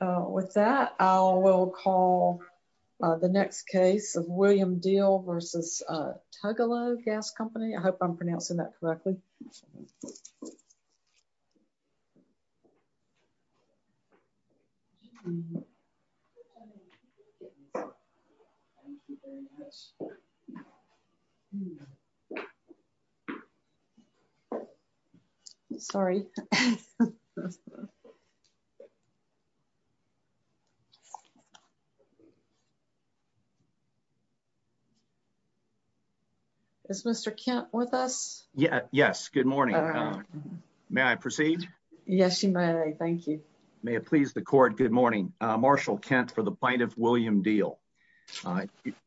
With that, I will call the next case of William Deal versus Tugalo Gas Company. I hope I'm pronouncing that correctly. Thank you. Sorry. Sorry. It's Mr camp with us. Yeah, yes. Good morning. May I proceed. Yes, you may. Thank you. May it please the court. Good morning, Marshall Kent for the plaintiff William deal.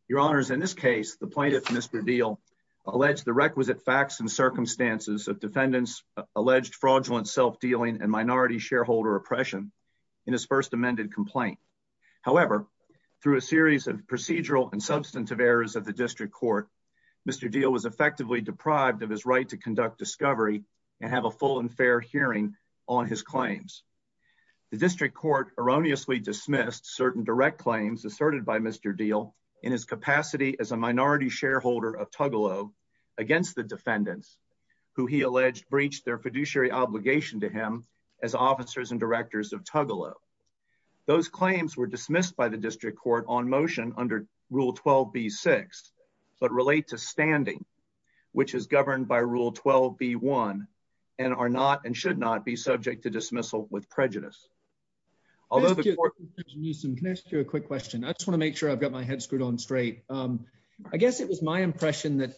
Your honors. In this case, the plaintiff Mr deal alleged the requisite facts and circumstances of defendants alleged fraudulent self dealing and minority shareholder oppression in his first amended complaint. However, through a series of procedural and substantive errors of the district court. Mr deal was effectively deprived of his right to conduct discovery and have a full and fair hearing on his claims. The district court erroneously dismissed certain direct claims asserted by Mr deal in his capacity as a minority shareholder of Tugalo against the defendants who he alleged breach their fiduciary obligation to him as officers and directors of Tugalo. Those claims were dismissed by the district court on motion under Rule 12 be six, but relate to standing, which is governed by Rule 12 be one, and are not and should not be subject to dismissal with prejudice. Although you can ask you a quick question I just want to make sure I've got my head screwed on straight. I guess it was my impression that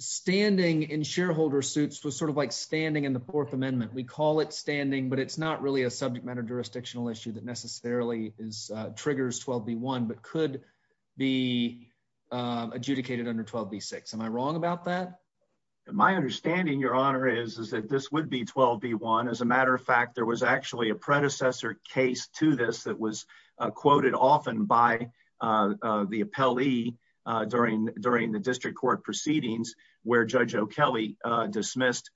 standing in shareholder suits was sort of like standing in the Fourth Amendment we call it standing but it's not really a subject matter jurisdictional issue that necessarily is triggers 12 be one but could be adjudicated under 12 be six Am I wrong about that. My understanding Your Honor is is that this would be 12 be one as a matter of fact there was actually a predecessor case to this that was quoted often by the appellee during during the district court proceedings, where Judge O'Kelley dismissed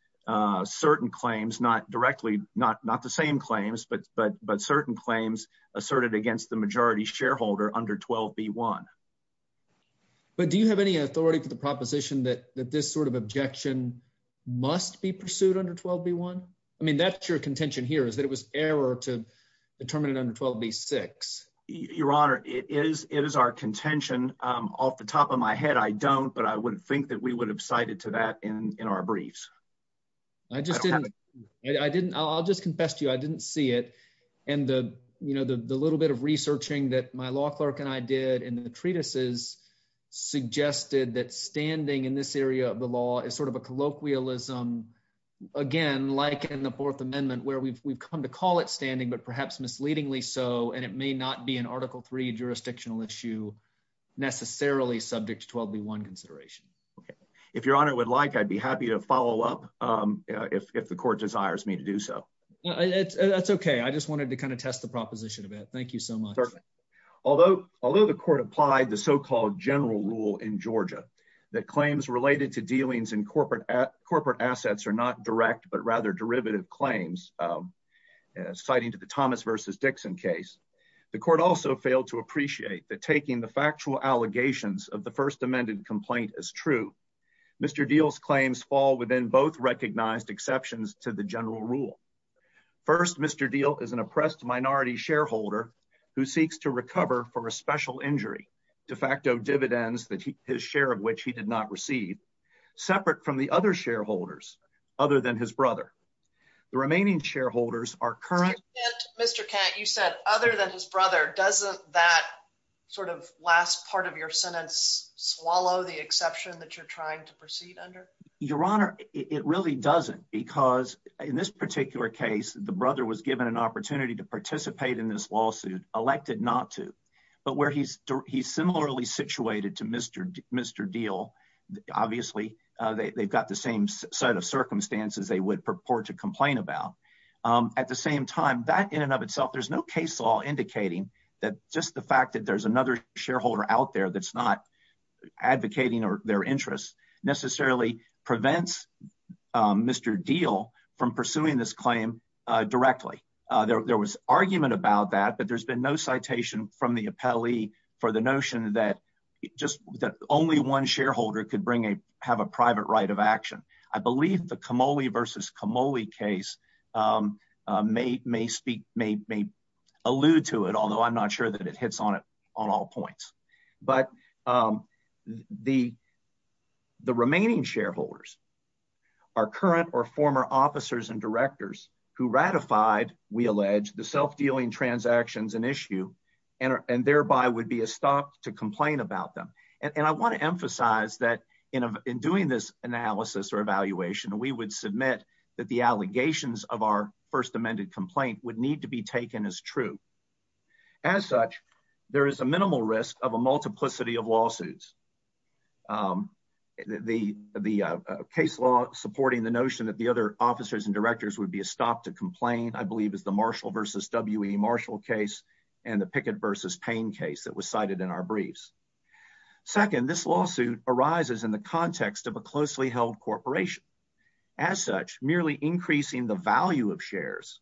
certain claims not directly, not not the same claims but but but certain claims asserted against the majority shareholder under 12 be one. But do you have any authority for the proposition that that this sort of objection must be pursued under 12 be one. I mean that's your contention here is that it was error to determine under 12 be six, Your Honor, it is it is our contention off the top of my head I don't but I wouldn't think that we would have cited to that in our briefs. I didn't I'll just confess to you I didn't see it. And the, you know, the little bit of researching that my law clerk and I did in the treatises suggested that standing in this area of the law is sort of a colloquialism. Again, like in the Fourth Amendment where we've we've come to call it standing but perhaps misleadingly so and it may not be an article three jurisdictional issue, necessarily subject to 12 be one consideration. If Your Honor would like I'd be happy to follow up. If the court desires me to do so. That's okay. I just wanted to kind of test the proposition of it. Thank you so much. Although, although the court applied the so called general rule in Georgia that claims related to dealings in corporate corporate assets are not direct but rather derivative claims, citing to the Thomas versus Dixon case. The court also failed to appreciate that taking the factual allegations of the First Amendment complaint is true. Mr deals claims fall within both recognized exceptions to the general rule. First, Mr deal is an oppressed minority shareholder who seeks to recover for a special injury de facto dividends that his share of which he did not receive separate from the other shareholders, other than his brother. The remaining shareholders are current, Mr. You said, other than his brother doesn't that sort of last part of your sentence swallow the exception that you're trying to proceed under your honor, it really doesn't because in this particular case, the brother was given an opportunity to participate in this lawsuit But where he's, he's similarly situated to Mr. Mr deal. Obviously, they've got the same set of circumstances, they would purport to complain about at the same time that in and of itself, there's no case law indicating that just the fact that there's another shareholder out there. Advocating or their interests necessarily prevents Mr deal from pursuing this claim directly. There was argument about that, but there's been no citation from the appellee for the notion that just that only one shareholder could bring a have a private right of action. I believe the commodity versus commodity case may may speak may may allude to it, although I'm not sure that it hits on it on all points, but the, the remaining shareholders are current or former officers and directors who ratified we allege the self dealing transactions and issue. And, and thereby would be a stop to complain about them. And I want to emphasize that in doing this analysis or evaluation and we would submit that the allegations of our first amended complaint would need to be taken as true. As such, there is a minimal risk of a multiplicity of lawsuits. The, the case law, supporting the notion that the other officers and directors would be a stop to complain I believe is the Marshall versus WM Marshall case, and the picket versus pain case that was cited in our briefs. Second, this lawsuit arises in the context of a closely held corporation. As such, merely increasing the value of shares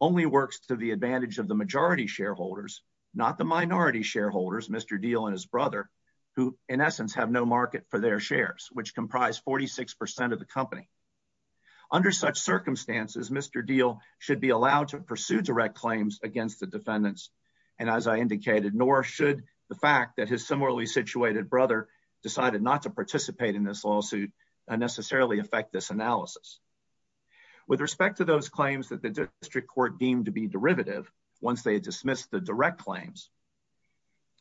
only works to the advantage of the majority shareholders, not the minority shareholders Mr deal and his brother, who, in essence, have no market for their shares, which comprise 46% of the company. Under such circumstances, Mr deal should be allowed to pursue direct claims against the defendants. And as I indicated, nor should the fact that his similarly situated brother decided not to participate in this lawsuit unnecessarily affect this analysis. With respect to those claims that the district court deemed to be derivative. Once they dismiss the direct claims.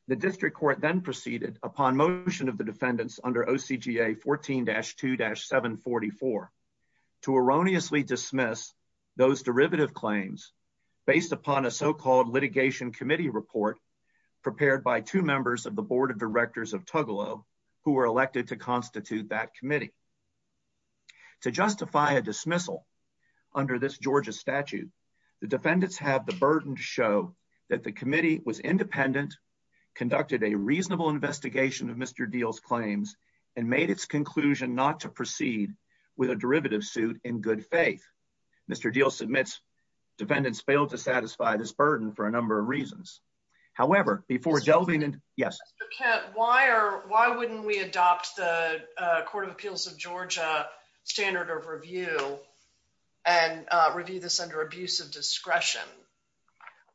The district court then proceeded upon motion of the defendants under OCGA 14 dash two dash 744 to erroneously dismiss those derivative claims, based upon a so called litigation committee report prepared by two members of the Board of Directors of Tuggalo, who were elected to constitute that committee. To justify a dismissal under this Georgia statute, the defendants have the burden to show that the committee was independent conducted a reasonable investigation of Mr deals claims and made its conclusion not to proceed with a derivative suit in good faith. Mr deal submits defendants failed to satisfy this burden for a number of reasons. However, before delving and yes, why are, why wouldn't we adopt the Court of Appeals of Georgia standard of review and review this under abuse of discretion.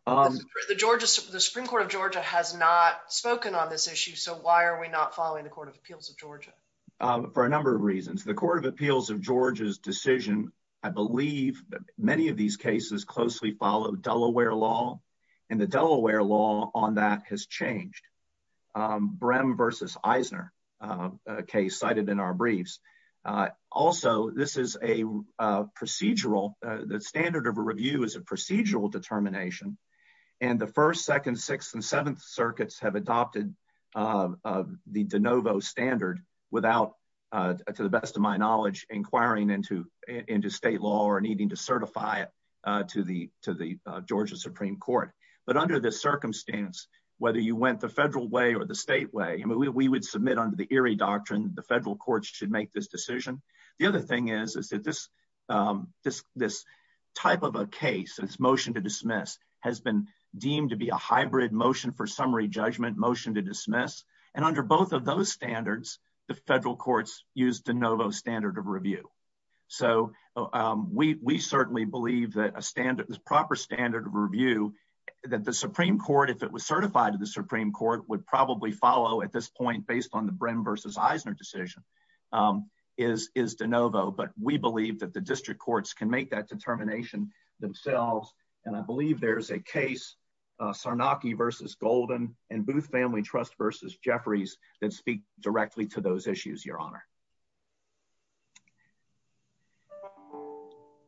The Georgia Supreme Court of Georgia has not spoken on this issue. So why are we not following the Court of Appeals of Georgia. For a number of reasons, the Court of Appeals of Georgia's decision. I believe that many of these cases closely follow Delaware law and the Delaware law on that has changed. Brehm versus Eisner case cited in our briefs. Also, this is a procedural that standard of review is a procedural determination. And the first, second, sixth and seventh circuits have adopted the de novo standard without, to the best of my knowledge, inquiring into into state law or needing to certify it to the to the Georgia Supreme Court. But under this circumstance, whether you went the federal way or the state way and we would submit under the eerie doctrine, the federal courts should make this decision. The other thing is, is that this, this, this type of a case and its motion to dismiss has been deemed to be a hybrid motion for summary judgment motion to dismiss. And under both of those standards, the federal courts use de novo standard of review. So we certainly believe that a standard is proper standard of review that the Supreme Court, if it was certified to the Supreme Court, would probably follow at this point, based on the Brehm versus Eisner decision is is de novo. But we believe that the district courts can make that determination themselves. And I believe there's a case Sarnacki versus Golden and Booth Family Trust versus Jeffries that speak directly to those issues, Your Honor.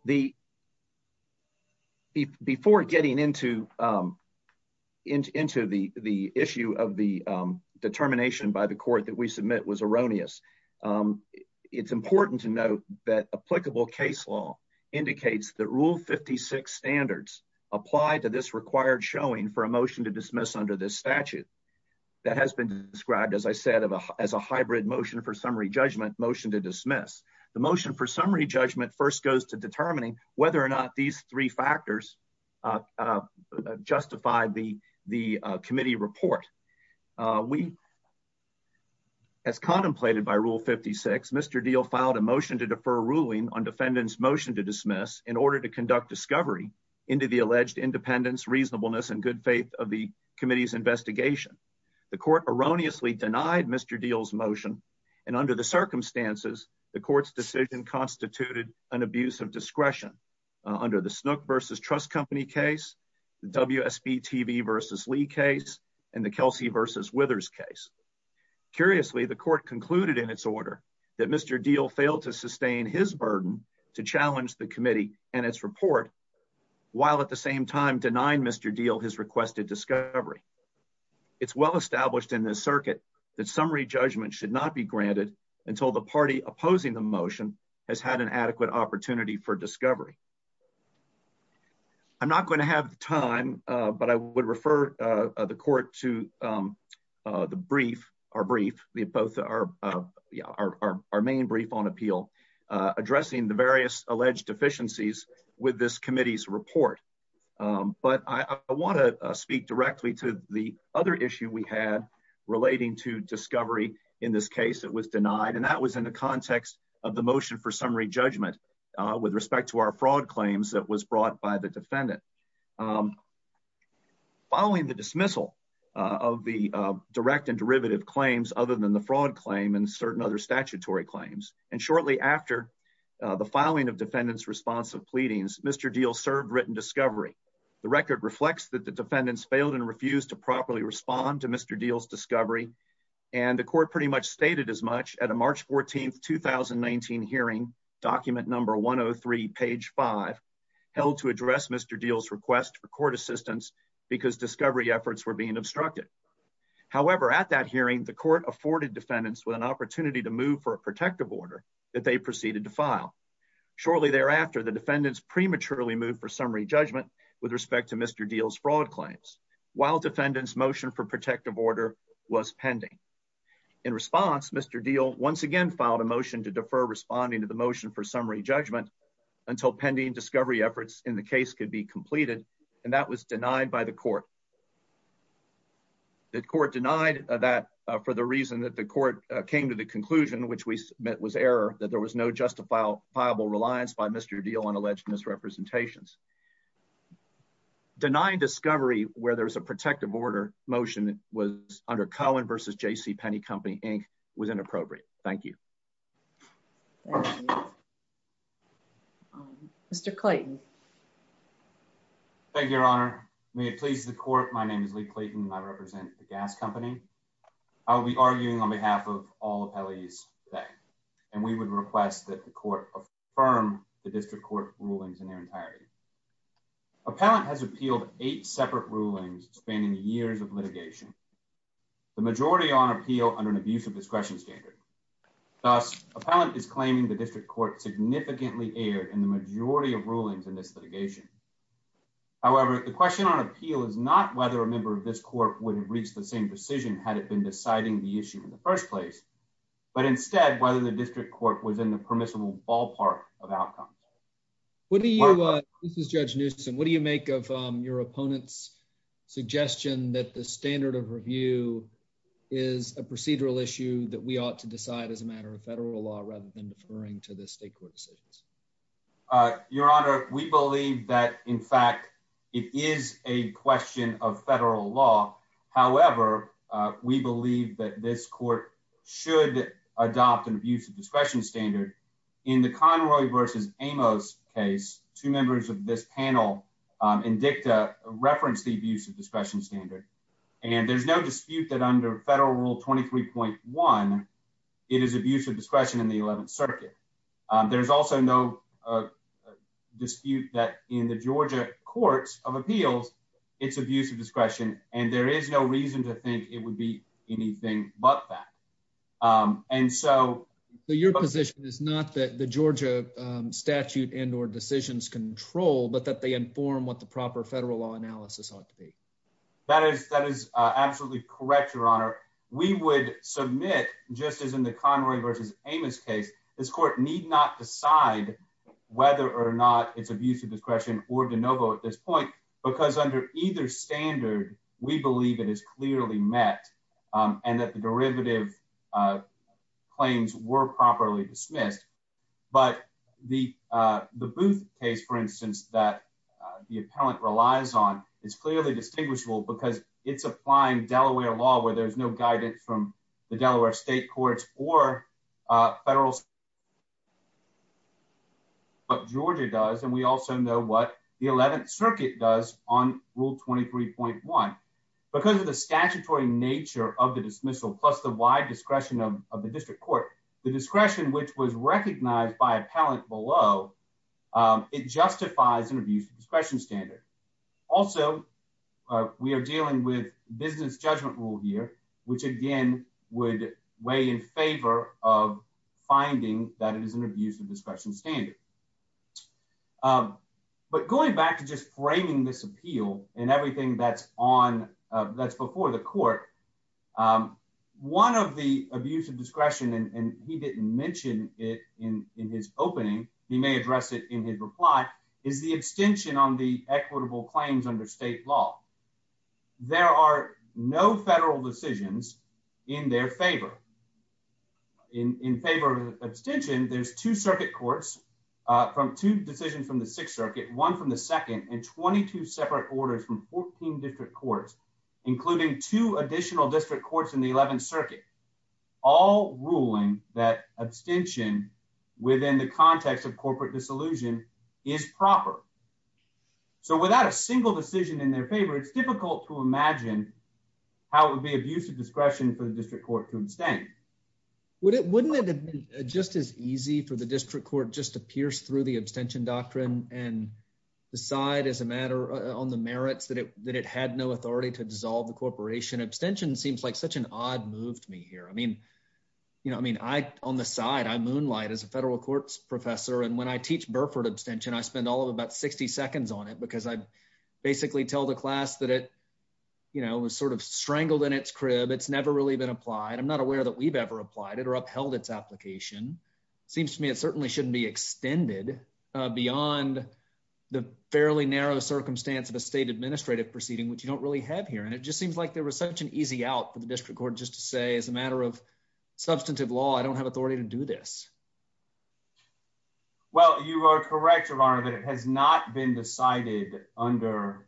The. Before getting into into into the, the issue of the determination by the court that we submit was erroneous. It's important to note that applicable case law indicates that rule 56 standards apply to this required showing for a motion to dismiss under this statute. That has been described, as I said, as a hybrid motion for summary judgment motion to dismiss the motion for summary judgment first goes to determining whether or not these three factors justify the, the committee report. We, as contemplated by rule 56 Mr deal filed a motion to defer ruling on defendants motion to dismiss in order to conduct discovery into the alleged independence reasonableness and good faith of the committee's investigation. The court erroneously denied Mr deals motion, and under the circumstances, the court's decision constituted an abuse of discretion under the snook versus trust company case, the WSB TV versus Lee case, and the Kelsey versus withers case. Curiously, the court concluded in its order that Mr deal failed to sustain his burden to challenge the committee, and its report, while at the same time denying Mr deal has requested discovery. It's well established in this circuit that summary judgment should not be granted until the party opposing the motion has had an adequate opportunity for discovery. I'm not going to have time, but I would refer the court to the brief or brief, the both are our main brief on appeal, addressing the various alleged deficiencies with this committee's report. But I want to speak directly to the other issue we had relating to discovery. In this case, it was denied and that was in the context of the motion for summary judgment, with respect to our fraud claims that was brought by the defendant. Following the dismissal of the direct and derivative claims, other than the fraud claim and certain other statutory claims, and shortly after the filing of defendants responsive pleadings, Mr deal served written discovery. The record reflects that the defendants failed and refused to properly respond to Mr deals discovery, and the court pretty much stated as much at a March 14 2019 hearing document number 103 page five held to address Mr deals request for court assistance, because discovery efforts were being obstructed. However, at that hearing the court afforded defendants with an opportunity to move for a protective order that they proceeded to file. Shortly thereafter, the defendants prematurely moved for summary judgment, with respect to Mr deals fraud claims, while defendants motion for protective order was pending. In response, Mr deal once again filed a motion to defer responding to the motion for summary judgment until pending discovery efforts in the case could be completed, and that was denied by the court that court denied that for the reason that the court came to the conclusion which we met was error that there was no justified viable reliance by Mr deal on alleged misrepresentations denying discovery, where there's a protective order motion was under Colin versus JC penny company, Inc. was inappropriate. Thank you. Mr Clayton. Thank you, Your Honor. May it please the court. My name is Lee Clayton I represent the gas company. I'll be arguing on behalf of all the police. And we would request that the court of firm, the district court rulings in their entirety. Appellant has appealed eight separate rulings spending years of litigation. The majority on appeal under an abuse of discretion standard. Appellant is claiming the district court significantly air and the majority of rulings in this litigation. However, the question on appeal is not whether a member of this court would reach the same decision had it been deciding the issue in the first place. But instead, whether the district court was in the permissible ballpark of outcomes. What do you. This is Judge Newsome, what do you make of your opponents suggestion that the standard of review is a procedural issue that we ought to decide as a matter of federal law rather than referring to the state court decisions. Your Honor, we believe that, in fact, it is a question of federal law. However, we believe that this court should adopt an abuse of discretion standard in the Conroy versus Amos case. Two members of this panel and dicta reference the abuse of discretion standard. And there's no dispute that under federal rule 23.1, it is abuse of discretion in the 11th Circuit. There's also no dispute that in the Georgia courts of appeals, it's abuse of discretion and there is no reason to think it would be anything but that. And so your position is not that the Georgia statute and or decisions control, but that they inform what the proper federal law analysis ought to be. That is that is absolutely correct. Your Honor, we would submit just as in the Conroy versus Amos case. This court need not decide whether or not it's abuse of discretion or de novo at this point, because under either standard, we believe it is clearly met and that the derivative claims were properly dismissed. But the the Booth case, for instance, that the appellant relies on is clearly distinguishable because it's applying Delaware law where there's no guidance from the Delaware state courts or federal. But Georgia does, and we also know what the 11th Circuit does on rule 23.1 because of the statutory nature of the dismissal, plus the wide discretion of the district court, the discretion which was recognized by appellant below. It justifies an abuse of discretion standard. Also, we are dealing with business judgment rule here, which again would weigh in favor of finding that it is an abuse of discretion standard. But going back to just framing this appeal and everything that's on that's before the court. One of the abuse of discretion, and he didn't mention it in his opening, he may address it in his reply, is the extension on the equitable claims under state law. There are no federal decisions in their favor. In favor of abstention, there's two circuit courts from two decisions from the Sixth Circuit, one from the second, and 22 separate orders from 14 district courts, including two additional district courts in the 11th Circuit, all ruling that abstention within the context of corporate disillusion is proper. So without a single decision in their favor, it's difficult to imagine how it would be abuse of discretion for the district court to abstain. Wouldn't it have been just as easy for the district court just to pierce through the abstention doctrine and decide as a matter on the merits that it had no authority to dissolve the corporation? Abstention seems like such an odd move to me here. I mean, on the side, I moonlight as a federal courts professor, and when I teach Burford abstention, I spend all of about 60 seconds on it because I basically tell the class that it was sort of strangled in its crib, it's never really been applied. I'm not aware that we've ever applied it or upheld its application. Seems to me it certainly shouldn't be extended beyond the fairly narrow circumstance of a state administrative proceeding, which you don't really have here. And it just seems like there was such an easy out for the district court just to say, as a matter of substantive law, I don't have authority to do this. Well, you are correct, Your Honor, that it has not been decided under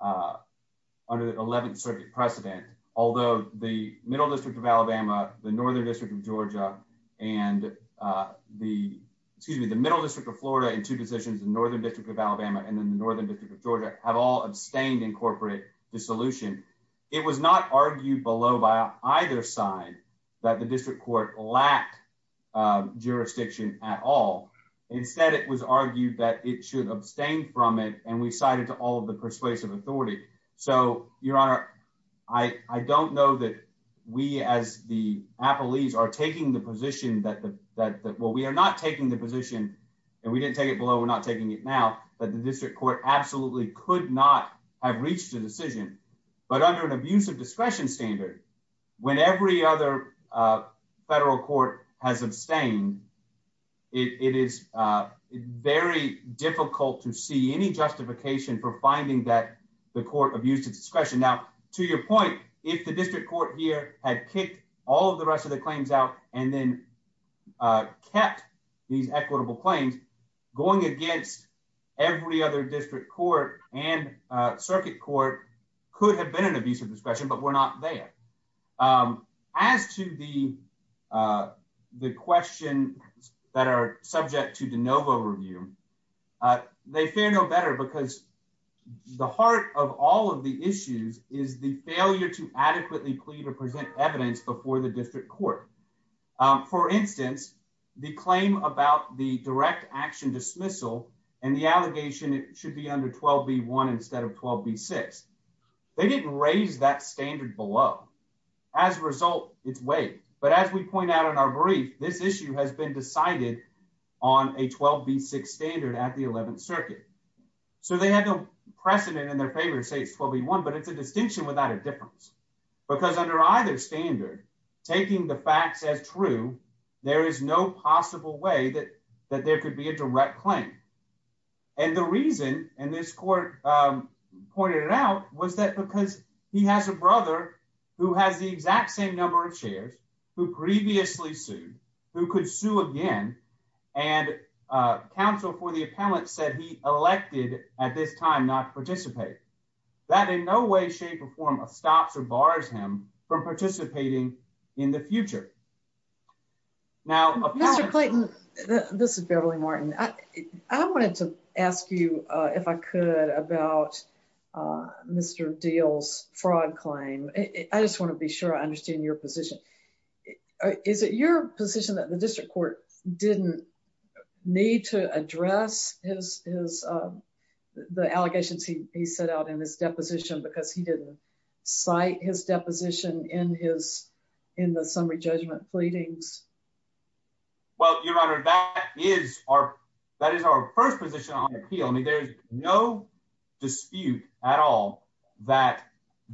the 11th Circuit precedent. Although the Middle District of Alabama, the Northern District of Georgia, and the excuse me, the Middle District of Florida in two positions, the Northern District of Alabama, and then the Northern District of Georgia have all abstained in corporate dissolution. It was not argued below by either side that the district court lacked jurisdiction at all. Instead, it was argued that it should abstain from it, and we cited to all of the persuasive authority. So, Your Honor, I don't know that we as the appellees are taking the position that, well, we are not taking the position, and we didn't take it below, we're not taking it now, that the district court absolutely could not have reached a decision. But under an abusive discretion standard, when every other federal court has abstained, it is very difficult to see any justification for finding that the court abused its discretion. Now, to your point, if the district court here had kicked all of the rest of the claims out and then kept these equitable claims, going against every other district court and circuit court could have been an abusive discretion, but we're not there. As to the questions that are subject to de novo review, they fare no better because the heart of all of the issues is the failure to adequately plead or present evidence before the district court. For instance, the claim about the direct action dismissal and the allegation it should be under 12B1 instead of 12B6, they didn't raise that standard below. As a result, it's waived, but as we point out in our brief, this issue has been decided on a 12B6 standard at the 11th Circuit. So they have no precedent in their favor to say it's 12B1, but it's a distinction without a difference. Because under either standard, taking the facts as true, there is no possible way that there could be a direct claim. And the reason, and this court pointed it out, was that because he has a brother who has the exact same number of shares, who previously sued, who could sue again, and counsel for the appellant said he elected at this time not to participate. That in no way, shape, or form stops or bars him from participating in the future. Mr. Clayton, this is Beverly Martin. I wanted to ask you, if I could, about Mr. Dale's fraud claim. I just want to be sure I understand your position. Is it your position that the district court didn't need to address the allegations he set out in his deposition because he didn't cite his deposition in the summary judgment pleadings? Well, Your Honor, that is our first position on the appeal. I mean, there's no dispute at all that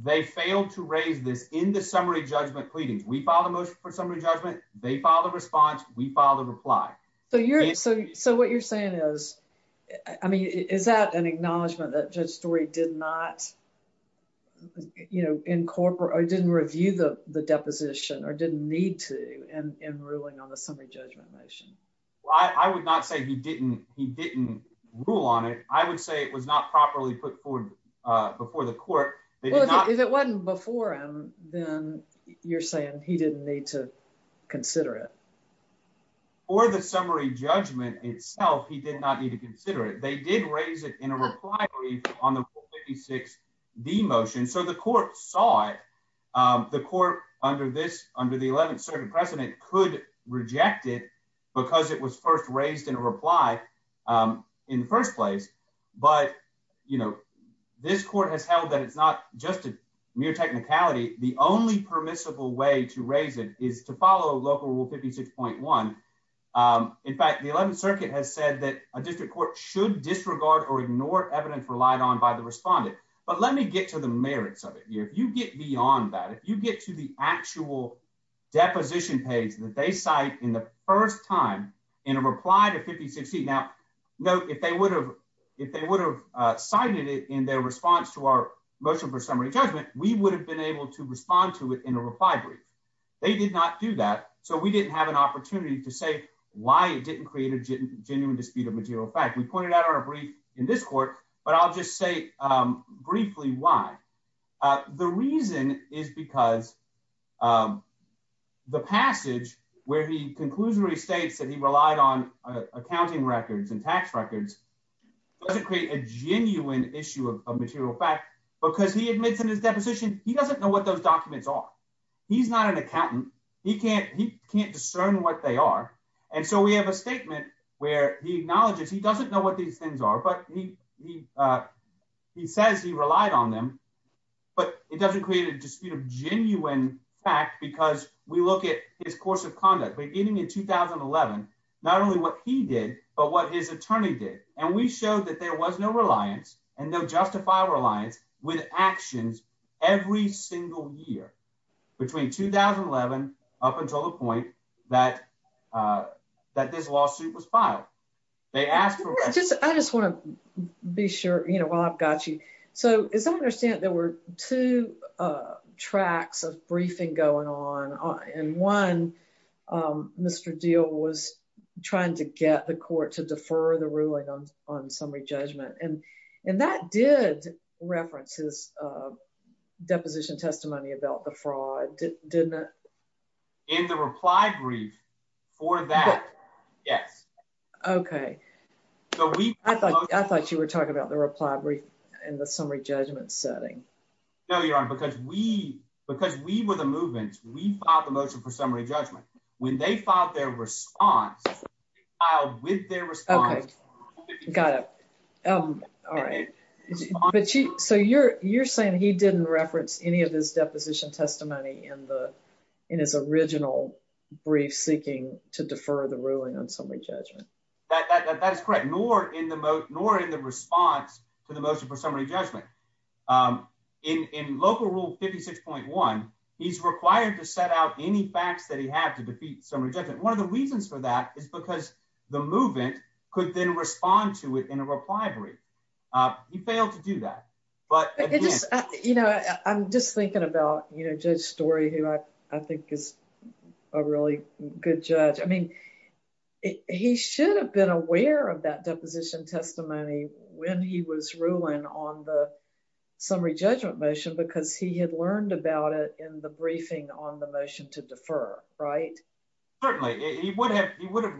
they failed to raise this in the summary judgment pleadings. We filed a motion for summary judgment, they filed a response, we filed a reply. So what you're saying is, I mean, is that an acknowledgment that Judge Story did not, you know, incorporate or didn't review the deposition or didn't need to in ruling on the summary judgment motion? I would not say he didn't rule on it. I would say it was not properly put forward before the court. Well, if it wasn't before him, then you're saying he didn't need to consider it? For the summary judgment itself, he did not need to consider it. They did raise it in a reply brief on the Rule 56B motion, so the court saw it. The court under the 11th Circuit precedent could reject it because it was first raised in a reply in the first place. But, you know, this court has held that it's not just a mere technicality. The only permissible way to raise it is to follow Local Rule 56.1. In fact, the 11th Circuit has said that a district court should disregard or ignore evidence relied on by the respondent. But let me get to the merits of it here. If you get beyond that, if you get to the actual deposition page that they cite in the first time in a reply to 5060. Now, note, if they would have cited it in their response to our motion for summary judgment, we would have been able to respond to it in a reply brief. They did not do that, so we didn't have an opportunity to say why it didn't create a genuine dispute of material fact. We pointed out our brief in this court, but I'll just say briefly why. The reason is because the passage where he conclusively states that he relied on accounting records and tax records doesn't create a genuine issue of material fact. Because he admits in his deposition he doesn't know what those documents are. He's not an accountant. He can't discern what they are. And so we have a statement where he acknowledges he doesn't know what these things are, but he says he relied on them. But it doesn't create a dispute of genuine fact because we look at his course of conduct beginning in 2011, not only what he did, but what his attorney did. And we showed that there was no reliance and no justified reliance with actions every single year between 2011 up until the point that this lawsuit was filed. I just want to be sure while I've got you. So as I understand, there were two tracks of briefing going on. And one, Mr. Deal was trying to get the court to defer the ruling on summary judgment. And that did reference his deposition testimony about the fraud, didn't it? In the reply brief for that, yes. Okay. I thought you were talking about the reply brief in the summary judgment setting. No, Your Honor, because we were the movement. We filed the motion for summary judgment. When they filed their response, we filed with their response. Got it. All right. So you're saying he didn't reference any of his deposition testimony in his original brief seeking to defer the ruling on summary judgment. That is correct, nor in the response to the motion for summary judgment. In local rule 56.1, he's required to set out any facts that he had to defeat summary judgment. One of the reasons for that is because the movement could then respond to it in a reply brief. He failed to do that. But, you know, I'm just thinking about, you know, Judge Story, who I think is a really good judge. I mean, he should have been aware of that deposition testimony when he was ruling on the summary judgment motion because he had learned about it in the briefing on the motion to defer. Right? Certainly. He would have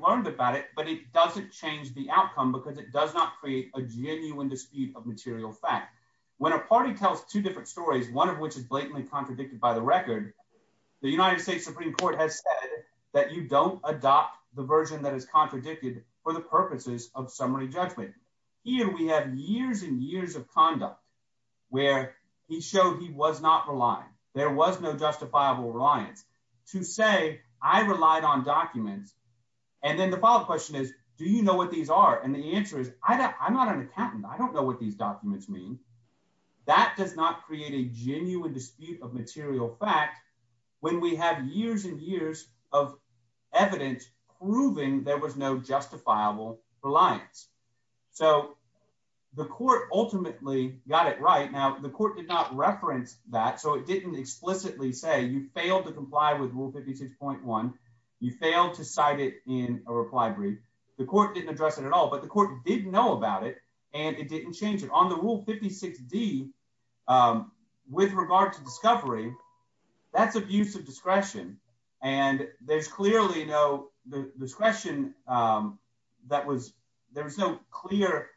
learned about it, but it doesn't change the outcome because it does not create a genuine dispute of material fact. When a party tells two different stories, one of which is blatantly contradicted by the record, the United States Supreme Court has said that you don't adopt the version that is contradicted for the purposes of summary judgment. Here we have years and years of conduct where he showed he was not reliant. There was no justifiable reliance to say I relied on documents. And then the follow up question is, do you know what these are? And the answer is, I'm not an accountant. I don't know what these documents mean. That does not create a genuine dispute of material fact when we have years and years of evidence proving there was no justifiable reliance. So the court ultimately got it right. Now, the court did not reference that, so it didn't explicitly say you failed to comply with Rule 56.1. You failed to cite it in a reply brief. The court didn't address it at all, but the court did know about it and it didn't change it. On the Rule 56D, with regard to discovery, that's abuse of discretion. And there's clearly no clear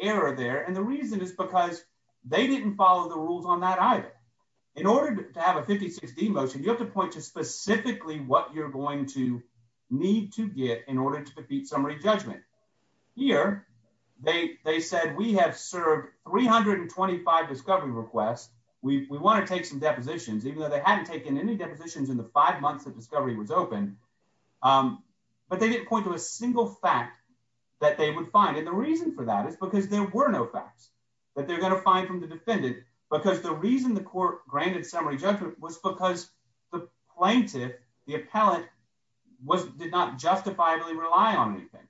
error there. And the reason is because they didn't follow the rules on that either. In order to have a 56D motion, you have to point to specifically what you're going to need to get in order to defeat summary judgment. Here, they said we have served 325 discovery requests. We want to take some depositions, even though they hadn't taken any depositions in the five months that discovery was open. But they didn't point to a single fact that they would find. And the reason for that is because there were no facts that they're going to find from the defendant. Because the reason the court granted summary judgment was because the plaintiff, the appellate, did not justifiably rely on anything.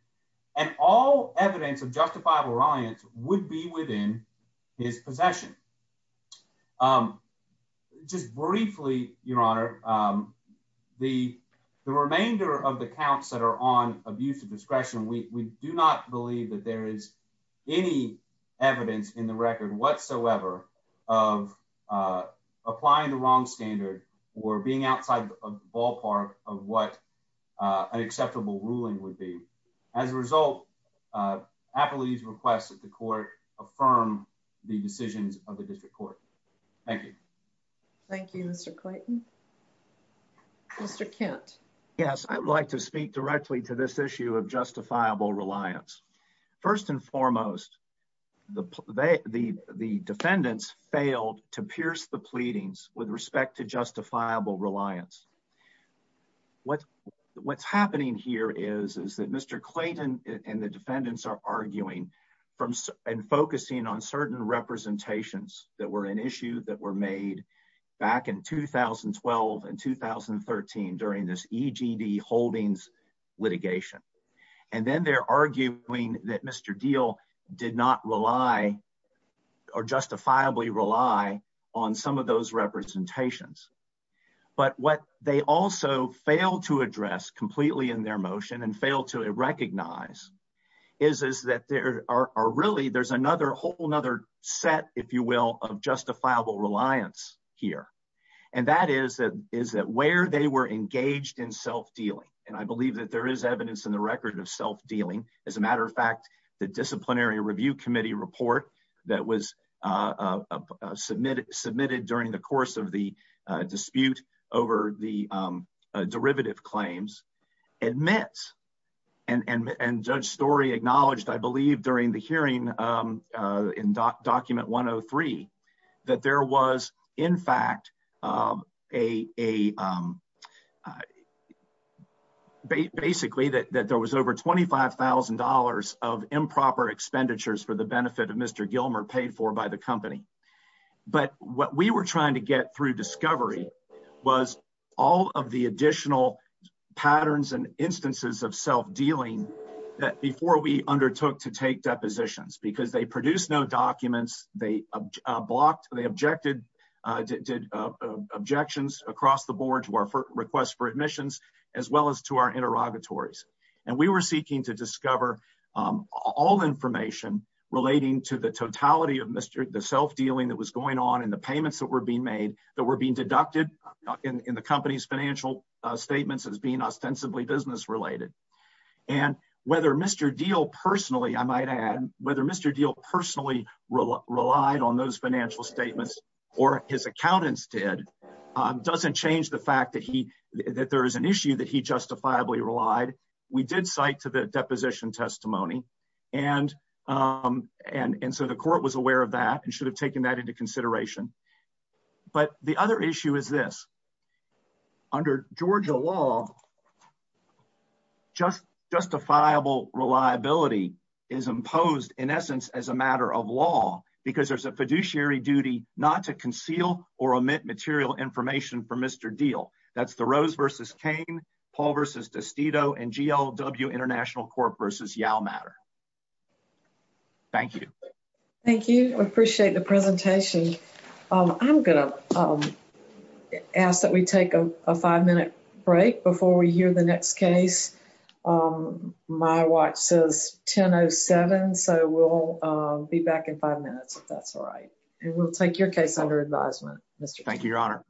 And all evidence of justifiable reliance would be within his possession. Just briefly, Your Honor, the remainder of the counts that are on abuse of discretion, we do not believe that there is any evidence in the record whatsoever of applying the wrong standard or being outside the ballpark of what an acceptable ruling would be. As a result, appellate's request that the court affirm the decisions of the district court. Thank you. Thank you, Mr. Clayton. Mr. Kent. Yes, I would like to speak directly to this issue of justifiable reliance. First and foremost, the defendants failed to pierce the pleadings with respect to justifiable reliance. What's happening here is that Mr. Clayton and the defendants are arguing and focusing on certain representations that were an issue that were made back in 2012 and 2013 during this EGD holdings litigation. And then they're arguing that Mr. Deal did not rely or justifiably rely on some of those representations. But what they also fail to address completely in their motion and fail to recognize is that there are really there's another whole nother set, if you will, of justifiable reliance here. And that is that is that where they were engaged in self-dealing. And I believe that there is evidence in the record of self-dealing. As a matter of fact, the disciplinary review committee report that was submitted submitted during the course of the dispute over the derivative claims. Admits and judge story acknowledged, I believe, during the hearing in document one oh three, that there was, in fact, a. Basically, that there was over twenty five thousand dollars of improper expenditures for the benefit of Mr. Gilmer paid for by the company. But what we were trying to get through discovery was all of the additional patterns and instances of self-dealing that before we undertook to take depositions because they produce no documents. They blocked, they objected, did objections across the board to our request for admissions as well as to our interrogatories. And we were seeking to discover all information relating to the totality of Mr. The self-dealing that was going on in the payments that were being made that were being deducted in the company's financial statements as being ostensibly business related. And whether Mr. Deal personally, I might add, whether Mr. Deal personally relied on those financial statements or his accountants did doesn't change the fact that he that there is an issue that he justifiably relied. We did cite to the deposition testimony and and so the court was aware of that and should have taken that into consideration. But the other issue is this. Under Georgia law, just justifiable reliability is imposed in essence as a matter of law because there's a fiduciary duty not to conceal or omit material information for Mr. Deal. That's the Rose versus Cain Paul versus Testido and GLW International Corp versus Yalmatter. Thank you. Thank you. We appreciate the presentation. I'm going to ask that we take a five minute break before we hear the next case. My watch says 1007, so we'll be back in five minutes if that's all right. And we'll take your case under advisement. Thank you, Your Honor.